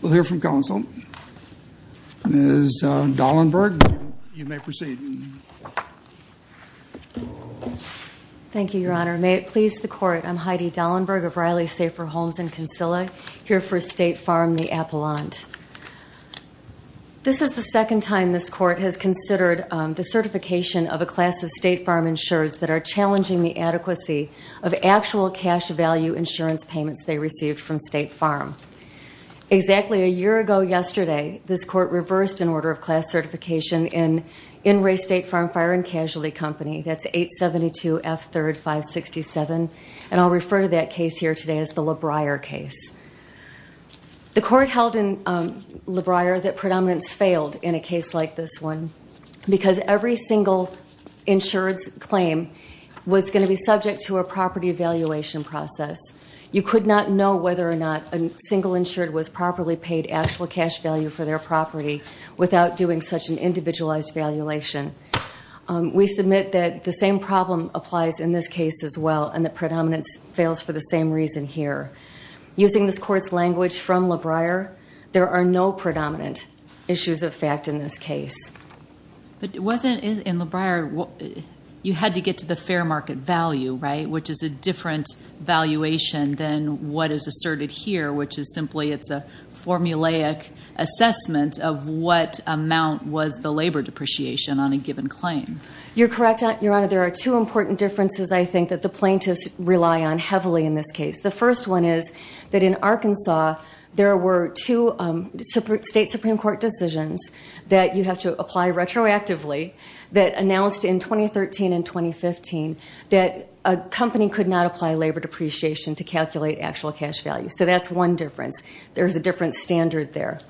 We'll hear from counsel. Ms. Dahlenberg, you may proceed. Thank you, Your Honor. May it please the Court, I'm Heidi Dahlenberg of Riley Safer Homes in Kinsilla, here for State Farm, the Appellant. This is the second time this Court has considered the certification of a class of State Farm insurers that are challenging the adequacy of actual cash value insurance payments they received from State Farm. Exactly a year ago yesterday, this Court reversed an order of class certification in In Re State Farm Fire and Casualty Company, that's 872 F 3rd 567, and I'll refer to that case here today as the LaBriere case. The Court held in LaBriere that predominance failed in a case like this one because every single insured's claim was going to be subject to a property evaluation process. You could not know whether or not a single insured was properly paid actual cash value for their property without doing such an individualized evaluation. We submit that the same problem applies in this case as well and that predominance fails for the same reason here. Using this Court's language from LaBriere, there are no predominant issues of fact in this case. But it wasn't in LaBriere, you had to get to the fair market value, right, which is a different valuation than what is asserted here, which is simply it's a formulaic assessment of what amount was the labor depreciation on a given claim. You're correct, Your Honor, there are two important differences I think that the plaintiffs rely on heavily in this case. The first one is that in Arkansas there were two State Supreme Court decisions that you have to apply retroactively that announced in 2013 and 2015 that a company could not apply labor depreciation to calculate actual cash value. So that's one difference. There's a different standard there.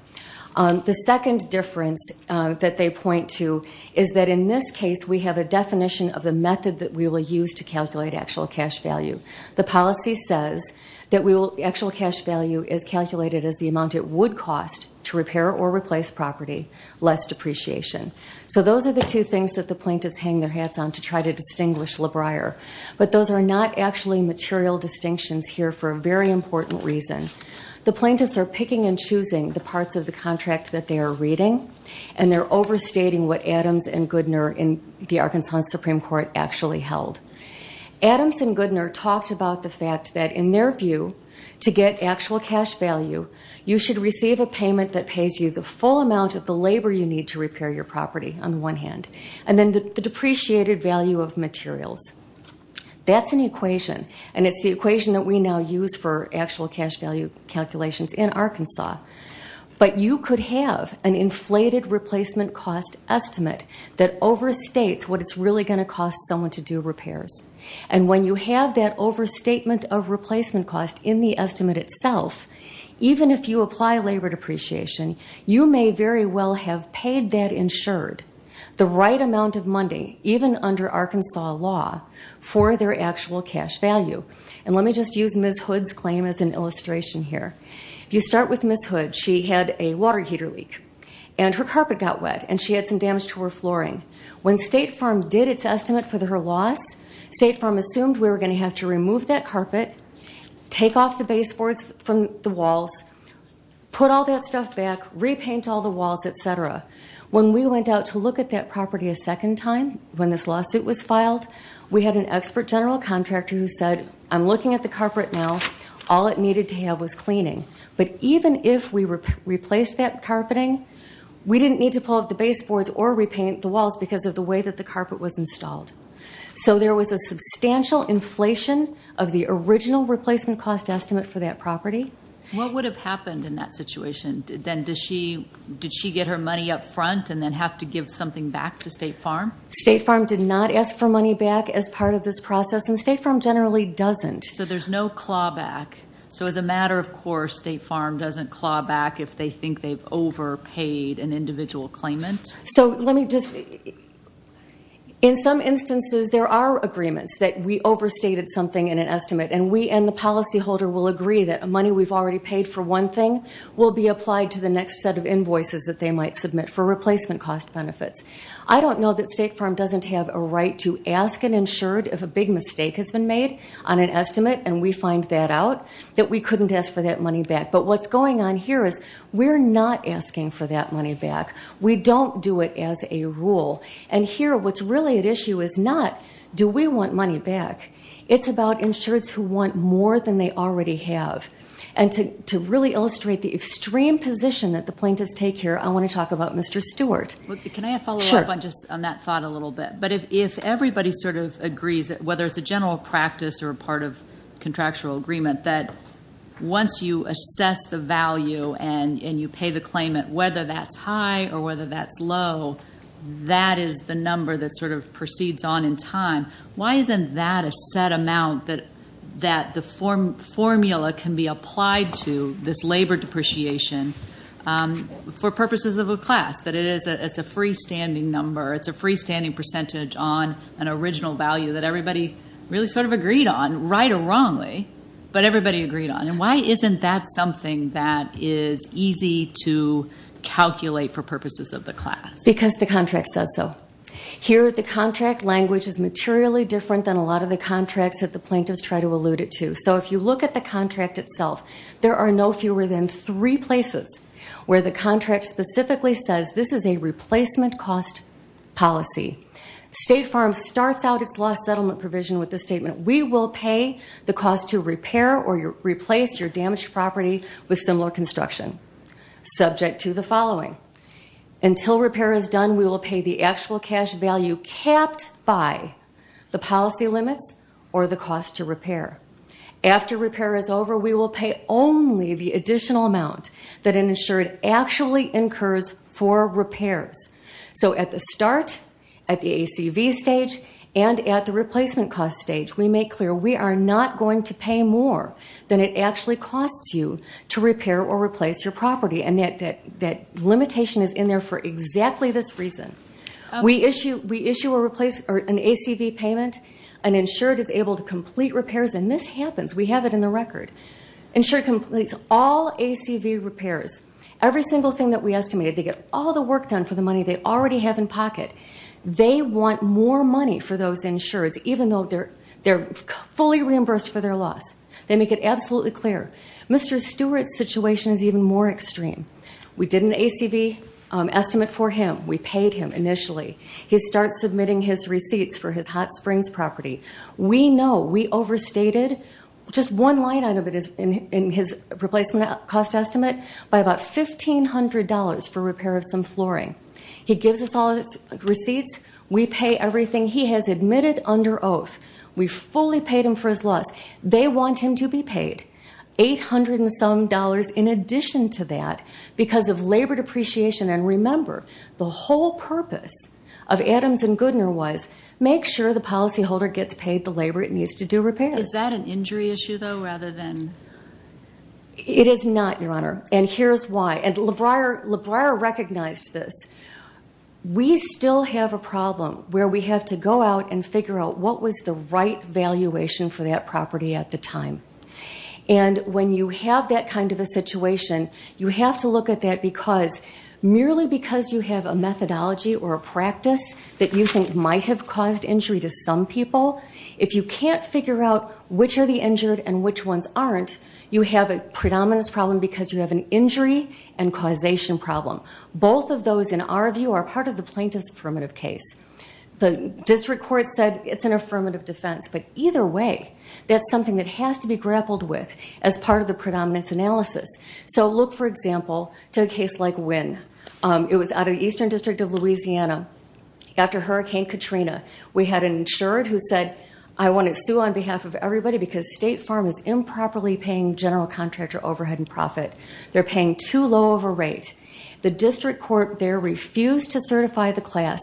The second difference that they point to is that in this case we have a definition of the method that we will use to calculate actual cash value. The policy says that the actual cash value is calculated as the amount it would cost to repair or replace property less depreciation. So those are the two things that the plaintiffs hang their hats on to try to distinguish LaBriere. But those are not actually material distinctions here for a very important reason. The plaintiffs are picking and choosing the parts of the contract that they are reading and they're overstating what Adams and Goodner in the Arkansas Supreme Court actually held. Adams and Goodner talked about the fact that in their view to get actual cash value you should receive a payment that pays you the full amount of the labor you need to repair your property on the one hand and then the depreciated value of materials. That's an equation and it's the equation that we now use for actual cash value calculations in Arkansas. But you could have an inflated replacement cost estimate that overstates what it's really going to cost someone to do repairs. And when you have that overstatement of replacement cost in the estimate itself, even if you apply labor depreciation, you may very well have paid that insured the right amount of money, even under Arkansas law, for their actual cash value. And let me just use Ms. Hood's claim as an illustration here. If you start with Ms. Hood, she had a water heater leak and her carpet got wet and she had some damage to her flooring. When State Farm did its estimate for her loss, State Farm assumed we were going to have to remove that carpet, take off the baseboards from the walls, put all that stuff back, repaint all the walls, etc. When we went out to look at that property a second time, when this lawsuit was filed, we had an expert general contractor who said, I'm looking at the carpet now. All it needed to have was cleaning. But even if we replaced that carpeting, we didn't need to pull up the baseboards or repaint the walls because of the way that the carpet was installed. So there was a substantial inflation of the original replacement cost estimate for that property. What would have happened in that situation? Did she get her money up front and then have to give something back to State Farm? State Farm did not ask for money back as part of this process, and State Farm generally doesn't. So there's no clawback. So as a matter of course, State Farm doesn't claw back if they think they've overpaid an individual claimant? In some instances, there are agreements that we overstated something in an estimate, and we and the policyholder will agree that money we've already paid for one thing will be applied to the next set of invoices that they might submit for replacement cost benefits. I don't know that State Farm doesn't have a right to ask an insured if a big mistake has been made on an estimate, and we find that out, that we couldn't ask for that money back. But what's going on here is we're not asking for that money back. We don't do it as a rule. And here what's really at issue is not do we want money back. It's about insureds who want more than they already have. And to really illustrate the extreme position that the plaintiffs take here, I want to talk about Mr. Stewart. Can I follow up on that thought a little bit? But if everybody sort of agrees, whether it's a general practice or a part of contractual agreement, that once you assess the value and you pay the claimant, whether that's high or whether that's low, that is the number that sort of proceeds on in time. Why isn't that a set amount that the formula can be applied to this labor depreciation for purposes of a class, that it's a freestanding number, it's a freestanding percentage on an original value that everybody really sort of agreed on, right or wrongly, but everybody agreed on? And why isn't that something that is easy to calculate for purposes of the class? Because the contract says so. Here the contract language is materially different than a lot of the contracts that the plaintiffs try to allude it to. So if you look at the contract itself, there are no fewer than three places where the contract specifically says this is a replacement cost policy. State Farm starts out its loss settlement provision with the statement, we will pay the cost to repair or replace your damaged property with similar construction, subject to the following. Until repair is done, we will pay the actual cash value capped by the policy limits or the cost to repair. After repair is over, we will pay only the additional amount that an insured actually incurs for repairs. So at the start, at the ACV stage and at the replacement cost stage, we make clear we are not going to pay more than it actually costs you to repair or replace your property. And that limitation is in there for exactly this reason. We issue an ACV payment. An insured is able to complete repairs. And this happens. We have it in the record. Insured completes all ACV repairs, every single thing that we estimated. They get all the work done for the money they already have in pocket. They want more money for those insureds, even though they're fully reimbursed for their loss. They make it absolutely clear. Mr. Stewart's situation is even more extreme. We did an ACV estimate for him. We paid him initially. He starts submitting his receipts for his Hot Springs property. We know we overstated just one line item in his replacement cost estimate by about $1,500 for repair of some flooring. He gives us all his receipts. We pay everything he has admitted under oath. We fully paid him for his loss. They want him to be paid $800-and-some in addition to that because of labor depreciation. And remember, the whole purpose of Adams & Goodner was make sure the policyholder gets paid the labor it needs to do repairs. Is that an injury issue, though, rather than? It is not, Your Honor, and here's why. And LaBriere recognized this. We still have a problem where we have to go out and figure out what was the right valuation for that property at the time. And when you have that kind of a situation, you have to look at that because merely because you have a methodology or a practice that you think might have caused injury to some people, if you can't figure out which are the injured and which ones aren't, you have a predominance problem because you have an injury and causation problem. Both of those, in our view, are part of the plaintiff's affirmative case. The district court said it's an affirmative defense, but either way, that's something that has to be grappled with as part of the predominance analysis. So look, for example, to a case like Wynn. It was out of Eastern District of Louisiana. After Hurricane Katrina, we had an insured who said, I want to sue on behalf of everybody because State Farm is improperly paying general contractor overhead and profit. They're paying too low of a rate. The district court there refused to certify the class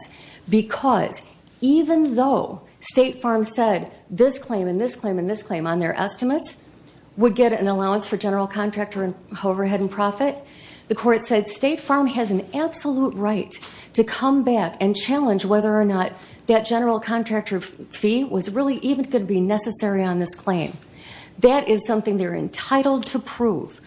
because even though State Farm said this claim and this claim and this claim on their estimates would get an allowance for general contractor overhead and profit, the court said State Farm has an absolute right to come back and challenge whether or not that general contractor fee was really even going to be necessary on this claim. That is something they're entitled to prove.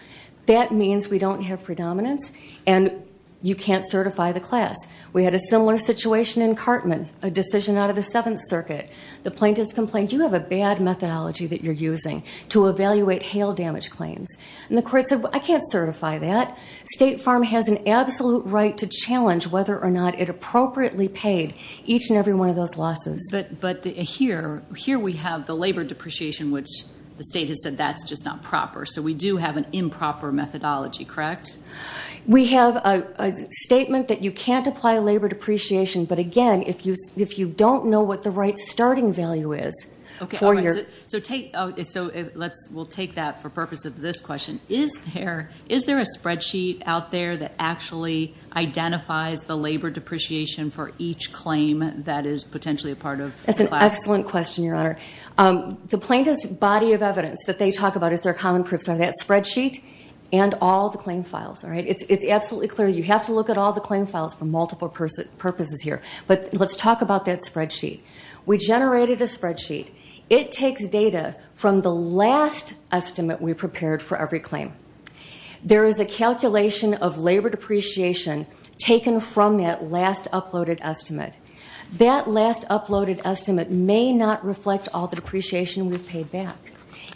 That means we don't have predominance, and you can't certify the class. We had a similar situation in Cartman, a decision out of the Seventh Circuit. The plaintiffs complained, you have a bad methodology that you're using to evaluate hail damage claims. And the court said, I can't certify that. State Farm has an absolute right to challenge whether or not it appropriately paid each and every one of those losses. But here we have the labor depreciation, which the state has said that's just not proper. So we do have an improper methodology, correct? We have a statement that you can't apply labor depreciation, but again, if you don't know what the right starting value is for your- So we'll take that for purpose of this question. Is there a spreadsheet out there that actually identifies the labor depreciation for each claim that is potentially a part of- That's an excellent question, Your Honor. The plaintiff's body of evidence that they talk about as their common proofs are that spreadsheet and all the claim files. It's absolutely clear you have to look at all the claim files for multiple purposes here. But let's talk about that spreadsheet. We generated a spreadsheet. It takes data from the last estimate we prepared for every claim. There is a calculation of labor depreciation taken from that last uploaded estimate. That last uploaded estimate may not reflect all the depreciation we've paid back.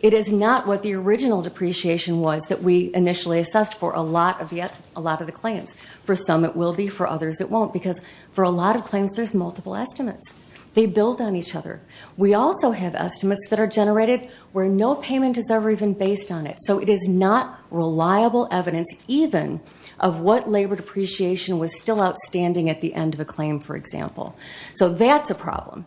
It is not what the original depreciation was that we initially assessed for a lot of the claims. For some it will be, for others it won't, because for a lot of claims there's multiple estimates. They build on each other. We also have estimates that are generated where no payment is ever even based on it. So it is not reliable evidence even of what labor depreciation was still outstanding at the end of a claim, for example. So that's a problem.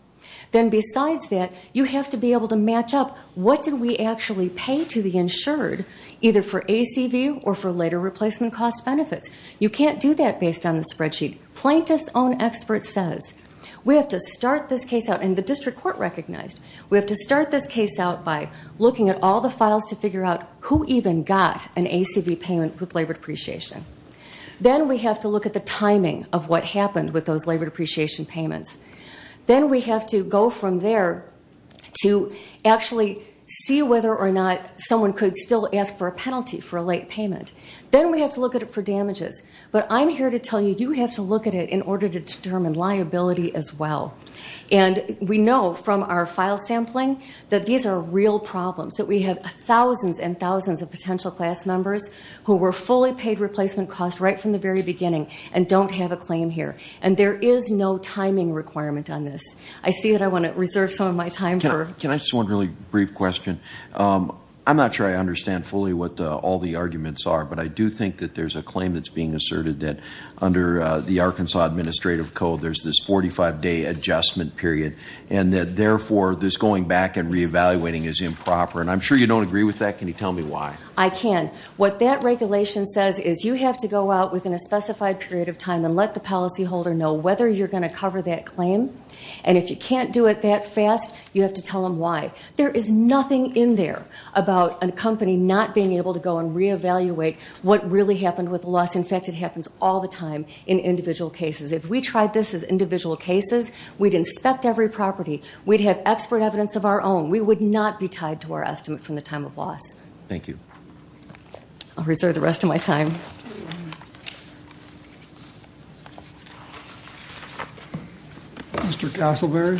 Then besides that, you have to be able to match up what did we actually pay to the insured, either for ACV or for later replacement cost benefits. You can't do that based on the spreadsheet. Plaintiff's own expert says we have to start this case out, and the district court recognized, we have to start this case out by looking at all the files to figure out who even got an ACV payment with labor depreciation. Then we have to look at the timing of what happened with those labor depreciation payments. Then we have to go from there to actually see whether or not someone could still ask for a penalty for a late payment. Then we have to look at it for damages. But I'm here to tell you you have to look at it in order to determine liability as well. And we know from our file sampling that these are real problems, that we have thousands and thousands of potential class members who were fully paid replacement costs right from the very beginning and don't have a claim here, and there is no timing requirement on this. I see that I want to reserve some of my time. Can I ask one really brief question? I'm not sure I understand fully what all the arguments are, but I do think that there's a claim that's being asserted that under the Arkansas Administrative Code, there's this 45-day adjustment period, and that, therefore, this going back and reevaluating is improper. And I'm sure you don't agree with that. Can you tell me why? I can. What that regulation says is you have to go out within a specified period of time and let the policyholder know whether you're going to cover that claim. And if you can't do it that fast, you have to tell them why. There is nothing in there about a company not being able to go and reevaluate what really happened with loss. In fact, it happens all the time in individual cases. If we tried this as individual cases, we'd inspect every property. We'd have expert evidence of our own. We would not be tied to our estimate from the time of loss. Thank you. I'll reserve the rest of my time. Mr. Castleberry.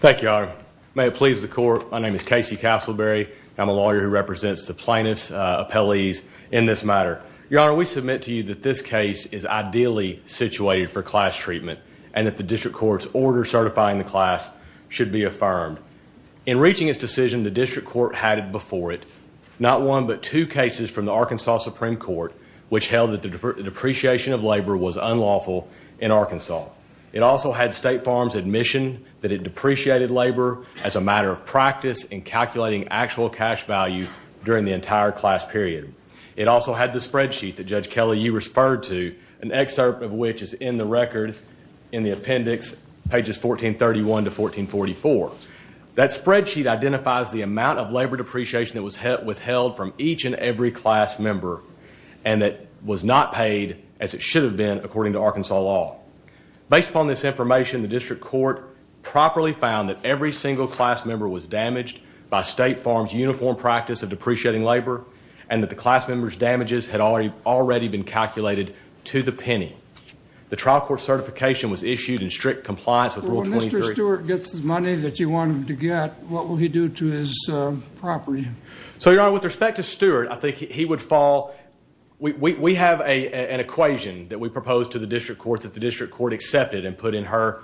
Thank you, Your Honor. May it please the Court, my name is Casey Castleberry. I'm a lawyer who represents the plaintiffs' appellees in this matter. Your Honor, we submit to you that this case is ideally situated for class treatment and that the district court's order certifying the class should be affirmed. In reaching its decision, the district court had it before it, not one but two cases from the Arkansas Supreme Court, which held that the depreciation of labor was unlawful in Arkansas. It also had State Farms' admission that it depreciated labor as a matter of practice in calculating actual cash value during the entire class period. It also had the spreadsheet that Judge Kelly, you referred to, an excerpt of which is in the record in the appendix, pages 1431 to 1444. That spreadsheet identifies the amount of labor depreciation that was withheld from each and every class member and that was not paid as it should have been, according to Arkansas law. Based upon this information, the district court properly found that every single class member was damaged by State Farms' uniform practice of depreciating labor and that the class member's damages had already been calculated to the penny. The trial court certification was issued in strict compliance with Rule 23. When Mr. Stewart gets the money that he wanted to get, what will he do to his property? Your Honor, with respect to Stewart, I think he would fall. We have an equation that we propose to the district court that the district court accepted and put in her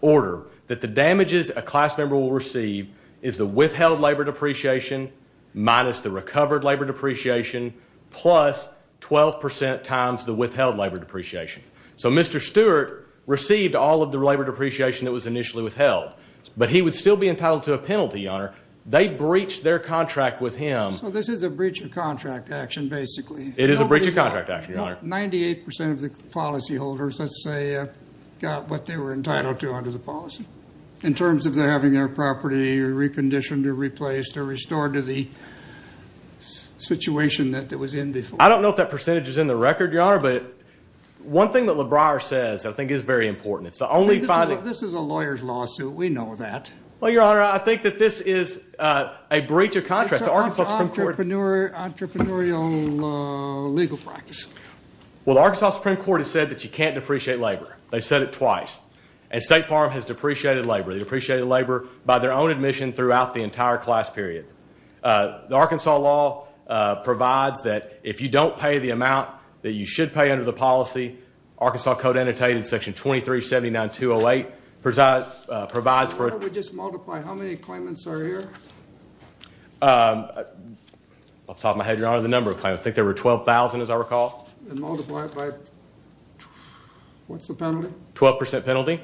order, that the damages a class member will receive is the withheld labor depreciation minus the recovered labor depreciation plus 12% times the withheld labor depreciation. So Mr. Stewart received all of the labor depreciation that was initially withheld, but he would still be entitled to a penalty, Your Honor. They breached their contract with him. So this is a breach of contract action, basically. It is a breach of contract action, Your Honor. 98% of the policyholders, let's say, got what they were entitled to under the policy in terms of their having their property reconditioned or replaced or restored to the situation that it was in before. I don't know if that percentage is in the record, Your Honor, but one thing that LaBriere says I think is very important. This is a lawyer's lawsuit. We know that. Well, Your Honor, I think that this is a breach of contract. It's an entrepreneurial legal practice. Well, the Arkansas Supreme Court has said that you can't depreciate labor. They said it twice. And State Farm has depreciated labor. They depreciated labor by their own admission throughout the entire class period. The Arkansas law provides that if you don't pay the amount that you should pay under the policy, Arkansas Code Annotated Section 2379-208 provides for it. Why don't we just multiply how many claimants are here? Off the top of my head, Your Honor, the number of claimants. I think there were 12,000, as I recall. And multiply it by what's the penalty? Twelve percent penalty.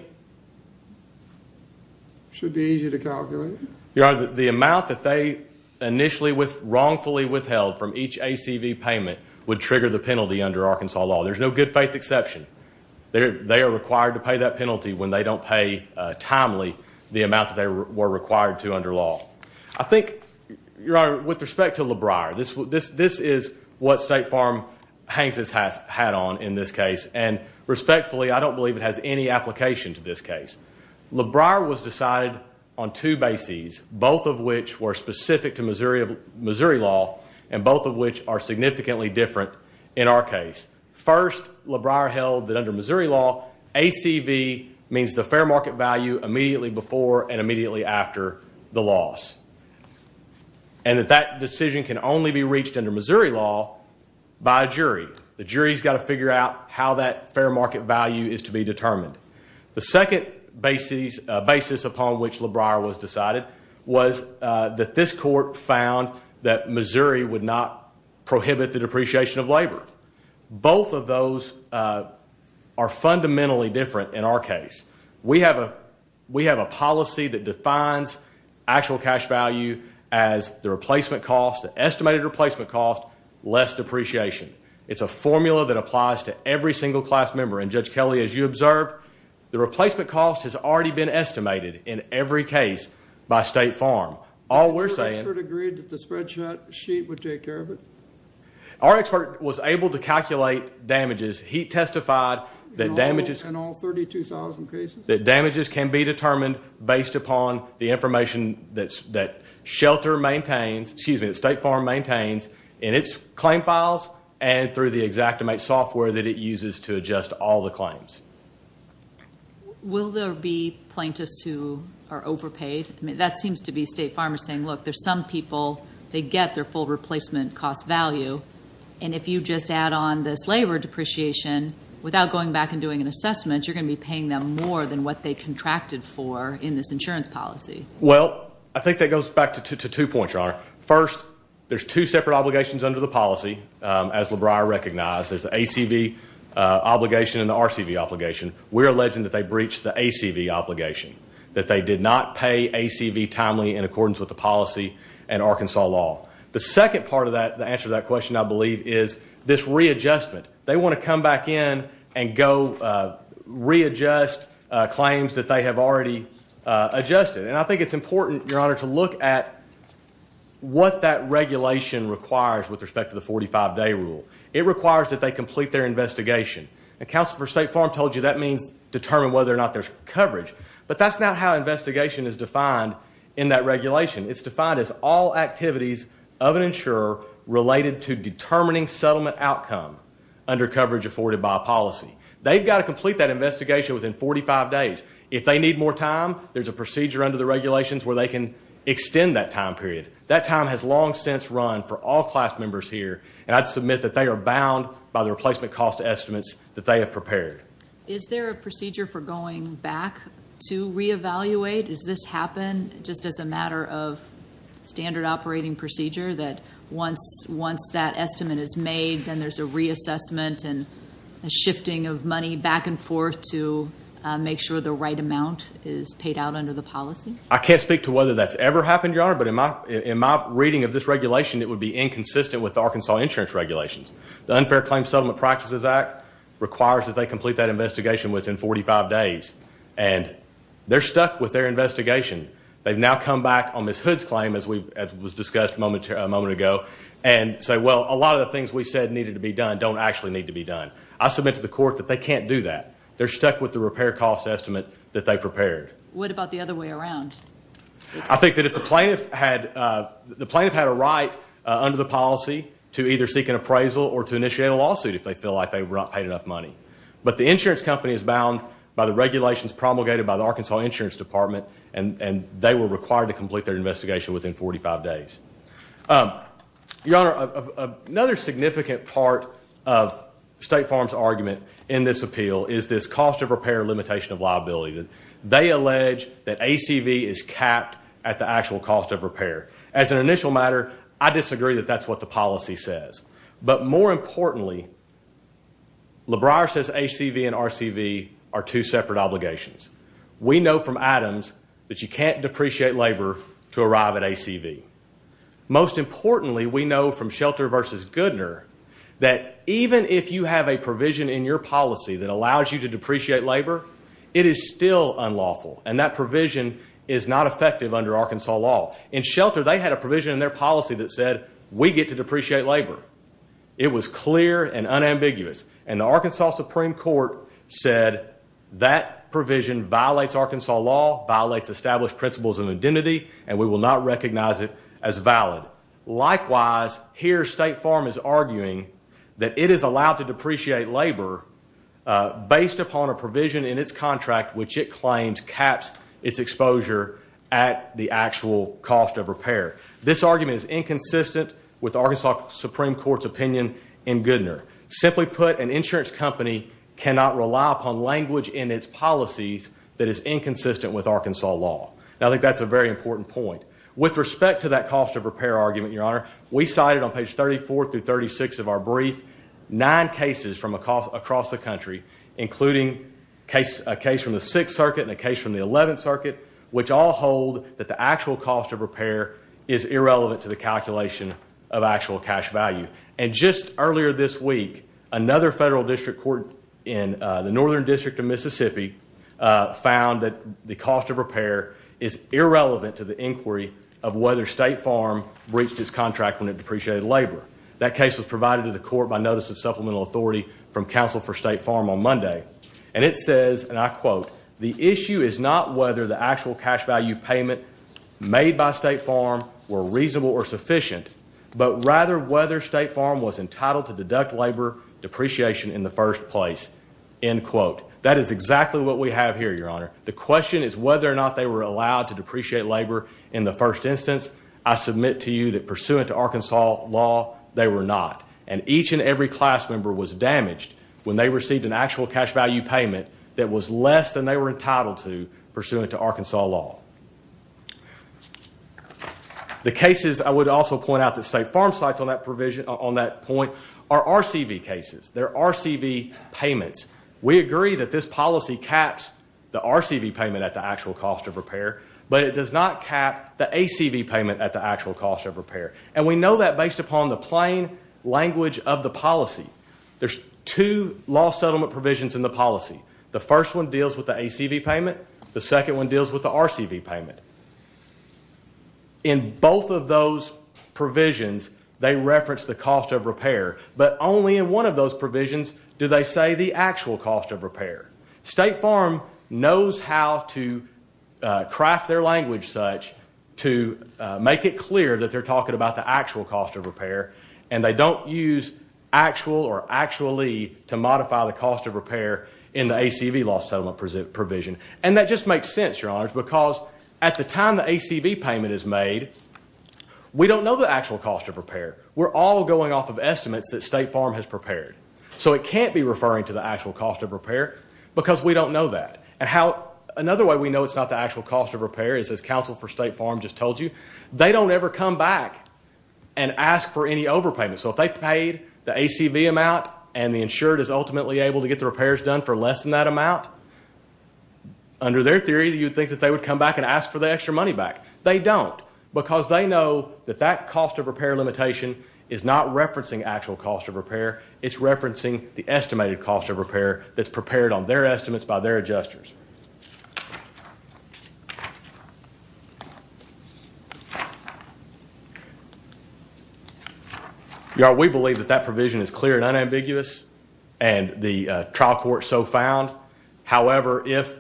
Should be easy to calculate. Your Honor, the amount that they initially wrongfully withheld from each ACV payment would trigger the penalty under Arkansas law. There's no good faith exception. They are required to pay that penalty when they don't pay timely the amount that they were required to under law. I think, Your Honor, with respect to LeBrier, this is what State Farm hangs its hat on in this case. And respectfully, I don't believe it has any application to this case. LeBrier was decided on two bases, both of which were specific to Missouri law and both of which are significantly different in our case. First, LeBrier held that under Missouri law, ACV means the fair market value immediately before and immediately after the loss. And that that decision can only be reached under Missouri law by a jury. The jury's got to figure out how that fair market value is to be determined. The second basis upon which LeBrier was decided was that this court found that Missouri would not prohibit the depreciation of labor. Both of those are fundamentally different in our case. We have a policy that defines actual cash value as the replacement cost, the estimated replacement cost, less depreciation. It's a formula that applies to every single class member. And Judge Kelly, as you observed, the replacement cost has already been estimated in every case by State Farm. Our expert agreed that the spreadsheet would take care of it. Our expert was able to calculate damages. He testified that damages- In all 32,000 cases? That damages can be determined based upon the information that shelter maintains, excuse me, that State Farm maintains in its claim files and through the Xactimate software that it uses to adjust all the claims. Will there be plaintiffs who are overpaid? I mean, that seems to be State Farmers saying, look, there's some people, they get their full replacement cost value, and if you just add on this labor depreciation without going back and doing an assessment, you're going to be paying them more than what they contracted for in this insurance policy. Well, I think that goes back to two points, Your Honor. First, there's two separate obligations under the policy, as LeBrier recognized. There's the ACV obligation and the RCV obligation. We're alleging that they breached the ACV obligation, that they did not pay ACV timely in accordance with the policy and Arkansas law. The second part of that, the answer to that question, I believe, is this readjustment. They want to come back in and go readjust claims that they have already adjusted. And I think it's important, Your Honor, to look at what that regulation requires with respect to the 45-day rule. It requires that they complete their investigation. And Counsel for State Farm told you that means determine whether or not there's coverage, but that's not how investigation is defined in that regulation. It's defined as all activities of an insurer related to determining settlement outcome under coverage afforded by a policy. They've got to complete that investigation within 45 days. If they need more time, there's a procedure under the regulations where they can extend that time period. That time has long since run for all class members here, and I'd submit that they are bound by the replacement cost estimates that they have prepared. Is there a procedure for going back to reevaluate? Does this happen just as a matter of standard operating procedure, that once that estimate is made, then there's a reassessment and a shifting of money back and forth to make sure the right amount is paid out under the policy? I can't speak to whether that's ever happened, Your Honor, but in my reading of this regulation, it would be inconsistent with Arkansas insurance regulations. The Unfair Claims Settlement Practices Act requires that they complete that investigation within 45 days, and they're stuck with their investigation. They've now come back on Ms. Hood's claim, as was discussed a moment ago, and say, well, a lot of the things we said needed to be done don't actually need to be done. I submit to the court that they can't do that. They're stuck with the repair cost estimate that they prepared. What about the other way around? I think that if the plaintiff had a right under the policy to either seek an appraisal or to initiate a lawsuit if they feel like they were not paid enough money. But the insurance company is bound by the regulations promulgated by the Arkansas Insurance Department, and they were required to complete their investigation within 45 days. Your Honor, another significant part of State Farm's argument in this appeal is this cost of repair limitation of liability. They allege that ACV is capped at the actual cost of repair. As an initial matter, I disagree that that's what the policy says. But more importantly, LeBrier says ACV and RCV are two separate obligations. We know from Adams that you can't depreciate labor to arrive at ACV. Most importantly, we know from Shelter v. Goodner that even if you have a provision in your policy that allows you to depreciate labor, it is still unlawful, and that provision is not effective under Arkansas law. In Shelter, they had a provision in their policy that said we get to depreciate labor. It was clear and unambiguous. And the Arkansas Supreme Court said that provision violates Arkansas law, violates established principles of identity, and we will not recognize it as valid. Likewise, here State Farm is arguing that it is allowed to depreciate labor based upon a provision in its contract which it claims caps its exposure at the actual cost of repair. This argument is inconsistent with Arkansas Supreme Court's opinion in Goodner. Simply put, an insurance company cannot rely upon language in its policies that is inconsistent with Arkansas law. I think that's a very important point. With respect to that cost of repair argument, Your Honor, we cited on page 34 through 36 of our brief nine cases from across the country, including a case from the Sixth Circuit and a case from the Eleventh Circuit, which all hold that the actual cost of repair is irrelevant to the calculation of actual cash value. And just earlier this week, another federal district court in the Northern District of Mississippi found that the cost of repair is irrelevant to the inquiry of whether State Farm breached its contract when it depreciated labor. That case was provided to the court by notice of supplemental authority from counsel for State Farm on Monday. And it says, and I quote, The issue is not whether the actual cash value payment made by State Farm were reasonable or sufficient, but rather whether State Farm was entitled to deduct labor depreciation in the first place. End quote. That is exactly what we have here, Your Honor. The question is whether or not they were allowed to depreciate labor in the first instance. I submit to you that pursuant to Arkansas law, they were not. And each and every class member was damaged when they received an actual cash value payment that was less than they were entitled to pursuant to Arkansas law. The cases I would also point out that State Farm cites on that provision, on that point, are RCV cases. They're RCV payments. We agree that this policy caps the RCV payment at the actual cost of repair, but it does not cap the ACV payment at the actual cost of repair. And we know that based upon the plain language of the policy. There's two law settlement provisions in the policy. The first one deals with the ACV payment. The second one deals with the RCV payment. In both of those provisions, they reference the cost of repair, but only in one of those provisions do they say the actual cost of repair. State Farm knows how to craft their language such to make it clear that they're talking about the actual cost of repair, and they don't use actual or actually to modify the cost of repair in the ACV law settlement provision. And that just makes sense, Your Honors, because at the time the ACV payment is made, we don't know the actual cost of repair. We're all going off of estimates that State Farm has prepared. So it can't be referring to the actual cost of repair because we don't know that. Another way we know it's not the actual cost of repair is, as Council for State Farm just told you, they don't ever come back and ask for any overpayment. So if they paid the ACV amount and the insured is ultimately able to get the repairs done for less than that amount, under their theory you'd think that they would come back and ask for the extra money back. They don't because they know that that cost of repair limitation is not referencing actual cost of repair. It's referencing the estimated cost of repair that's prepared on their estimates by their adjusters. We believe that that provision is clear and unambiguous, and the trial court so found. However, if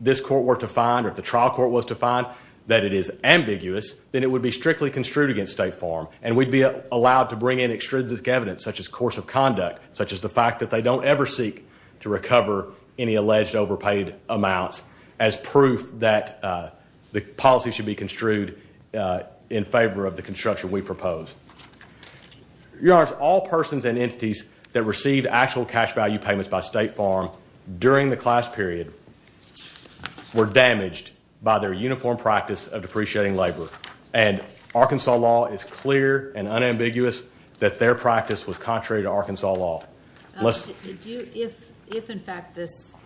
this court were to find or if the trial court was to find that it is ambiguous, then it would be strictly construed against State Farm, and we'd be allowed to bring in extrinsic evidence such as course of conduct, such as the fact that they don't ever seek to recover any alleged overpaid amounts as proof that the policy should be construed in favor of the construction we propose. Your Honors, all persons and entities that received actual cash value payments by State Farm during the class period were damaged by their uniform practice of depreciating labor, and Arkansas law is clear and unambiguous that their practice was contrary to Arkansas law. If, in fact, this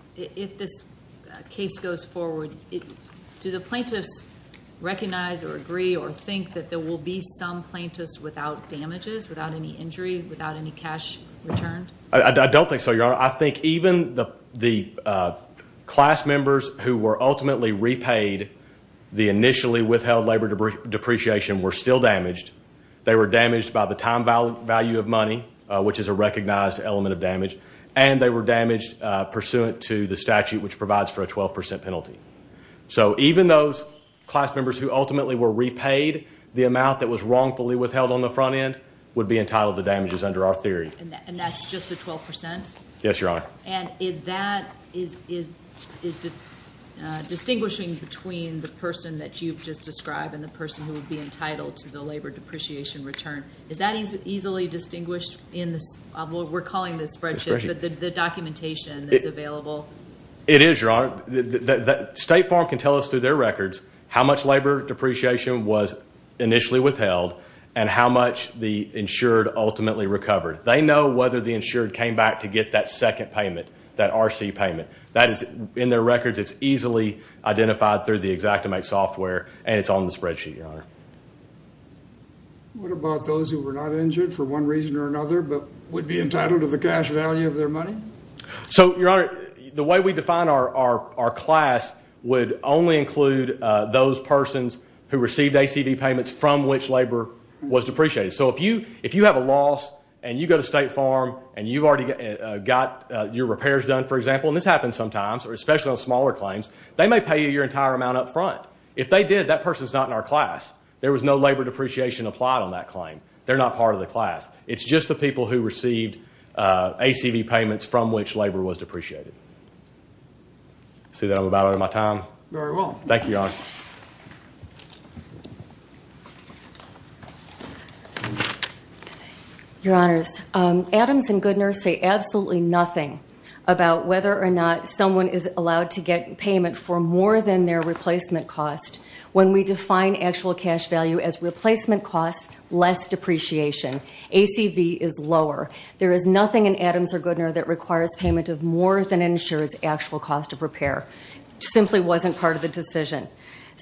case goes forward, do the plaintiffs recognize or agree or think that there will be some plaintiffs without damages, without any injury, without any cash returned? I don't think so, Your Honor. Your Honor, I think even the class members who were ultimately repaid the initially withheld labor depreciation were still damaged. They were damaged by the time value of money, which is a recognized element of damage, and they were damaged pursuant to the statute, which provides for a 12 percent penalty. So even those class members who ultimately were repaid the amount that was wrongfully withheld on the front end would be entitled to damages under our theory. And that's just the 12 percent? Yes, Your Honor. And is that distinguishing between the person that you've just described and the person who would be entitled to the labor depreciation return? Is that easily distinguished in what we're calling the spreadsheet, the documentation that's available? It is, Your Honor. State Farm can tell us through their records how much labor depreciation was initially withheld and how much the insured ultimately recovered. They know whether the insured came back to get that second payment, that RC payment. That is in their records. It's easily identified through the Xactimate software, and it's on the spreadsheet, Your Honor. What about those who were not injured for one reason or another but would be entitled to the cash value of their money? So, Your Honor, the way we define our class would only include those persons who received ACD payments from which labor was depreciated. So if you have a loss and you go to State Farm and you've already got your repairs done, for example, and this happens sometimes, or especially on smaller claims, they may pay you your entire amount up front. If they did, that person's not in our class. There was no labor depreciation applied on that claim. They're not part of the class. It's just the people who received ACD payments from which labor was depreciated. See that I'm about out of my time? Very well. Thank you, Your Honor. Your Honors, Adams and Goodner say absolutely nothing about whether or not someone is allowed to get payment for more than their replacement cost. When we define actual cash value as replacement cost, less depreciation. ACV is lower. There is nothing in Adams or Goodner that requires payment of more than insured's actual cost of repair. It simply wasn't part of the decision.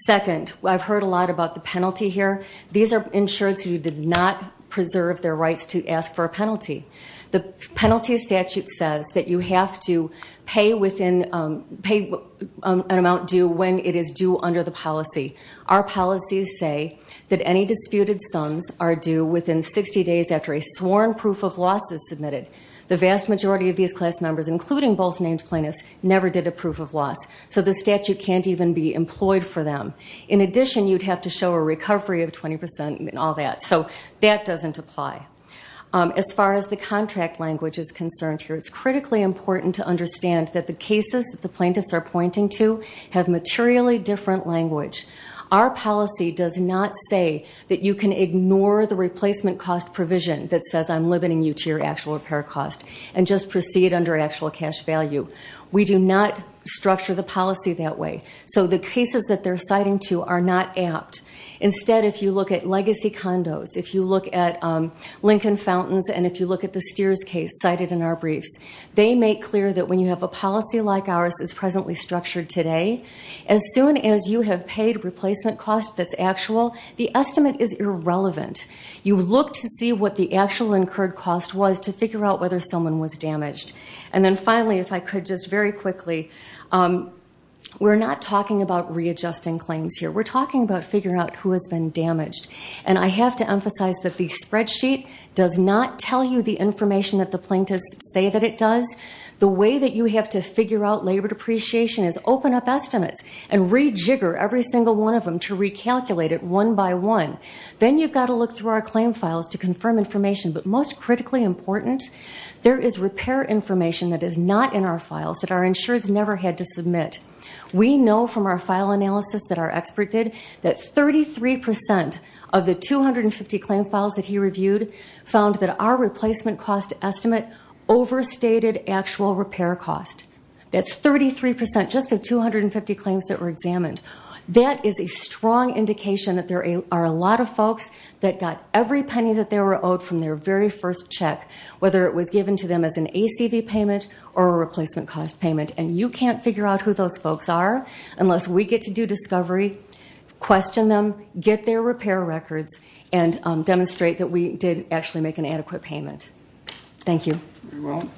Second, I've heard a lot about the penalty here. These are insureds who did not preserve their rights to ask for a penalty. The penalty statute says that you have to pay an amount due when it is due under the policy. Our policies say that any disputed sums are due within 60 days after a sworn proof of loss is submitted. The vast majority of these class members, including both named plaintiffs, never did a proof of loss. So the statute can't even be employed for them. In addition, you'd have to show a recovery of 20% and all that. So that doesn't apply. As far as the contract language is concerned here, it's critically important to understand that the cases that the plaintiffs are pointing to have materially different language. Our policy does not say that you can ignore the replacement cost provision that says I'm limiting you to your actual repair cost and just proceed under actual cash value. We do not structure the policy that way. So the cases that they're citing to are not apt. Instead, if you look at legacy condos, if you look at Lincoln Fountains, and if you look at the Steers case cited in our briefs, they make clear that when you have a policy like ours that's presently structured today, as soon as you have paid replacement cost that's actual, the estimate is irrelevant. You look to see what the actual incurred cost was to figure out whether someone was damaged. And then finally, if I could just very quickly, we're not talking about readjusting claims here. We're talking about figuring out who has been damaged. And I have to emphasize that the spreadsheet does not tell you the information that the plaintiffs say that it does. The way that you have to figure out labor depreciation is open up estimates and rejigger every single one of them to recalculate it one by one. Then you've got to look through our claim files to confirm information. But most critically important, there is repair information that is not in our files that our insureds never had to submit. We know from our file analysis that our expert did that 33% of the 250 claim files that he reviewed found that our replacement cost estimate overstated actual repair cost. That's 33% just of 250 claims that were examined. That is a strong indication that there are a lot of folks that got every penny that they were owed from their very first check, whether it was given to them as an ACV payment or a replacement cost payment. And you can't figure out who those folks are unless we get to do discovery, question them, get their repair records, and demonstrate that we did actually make an adequate payment. Thank you. Thank you. We will.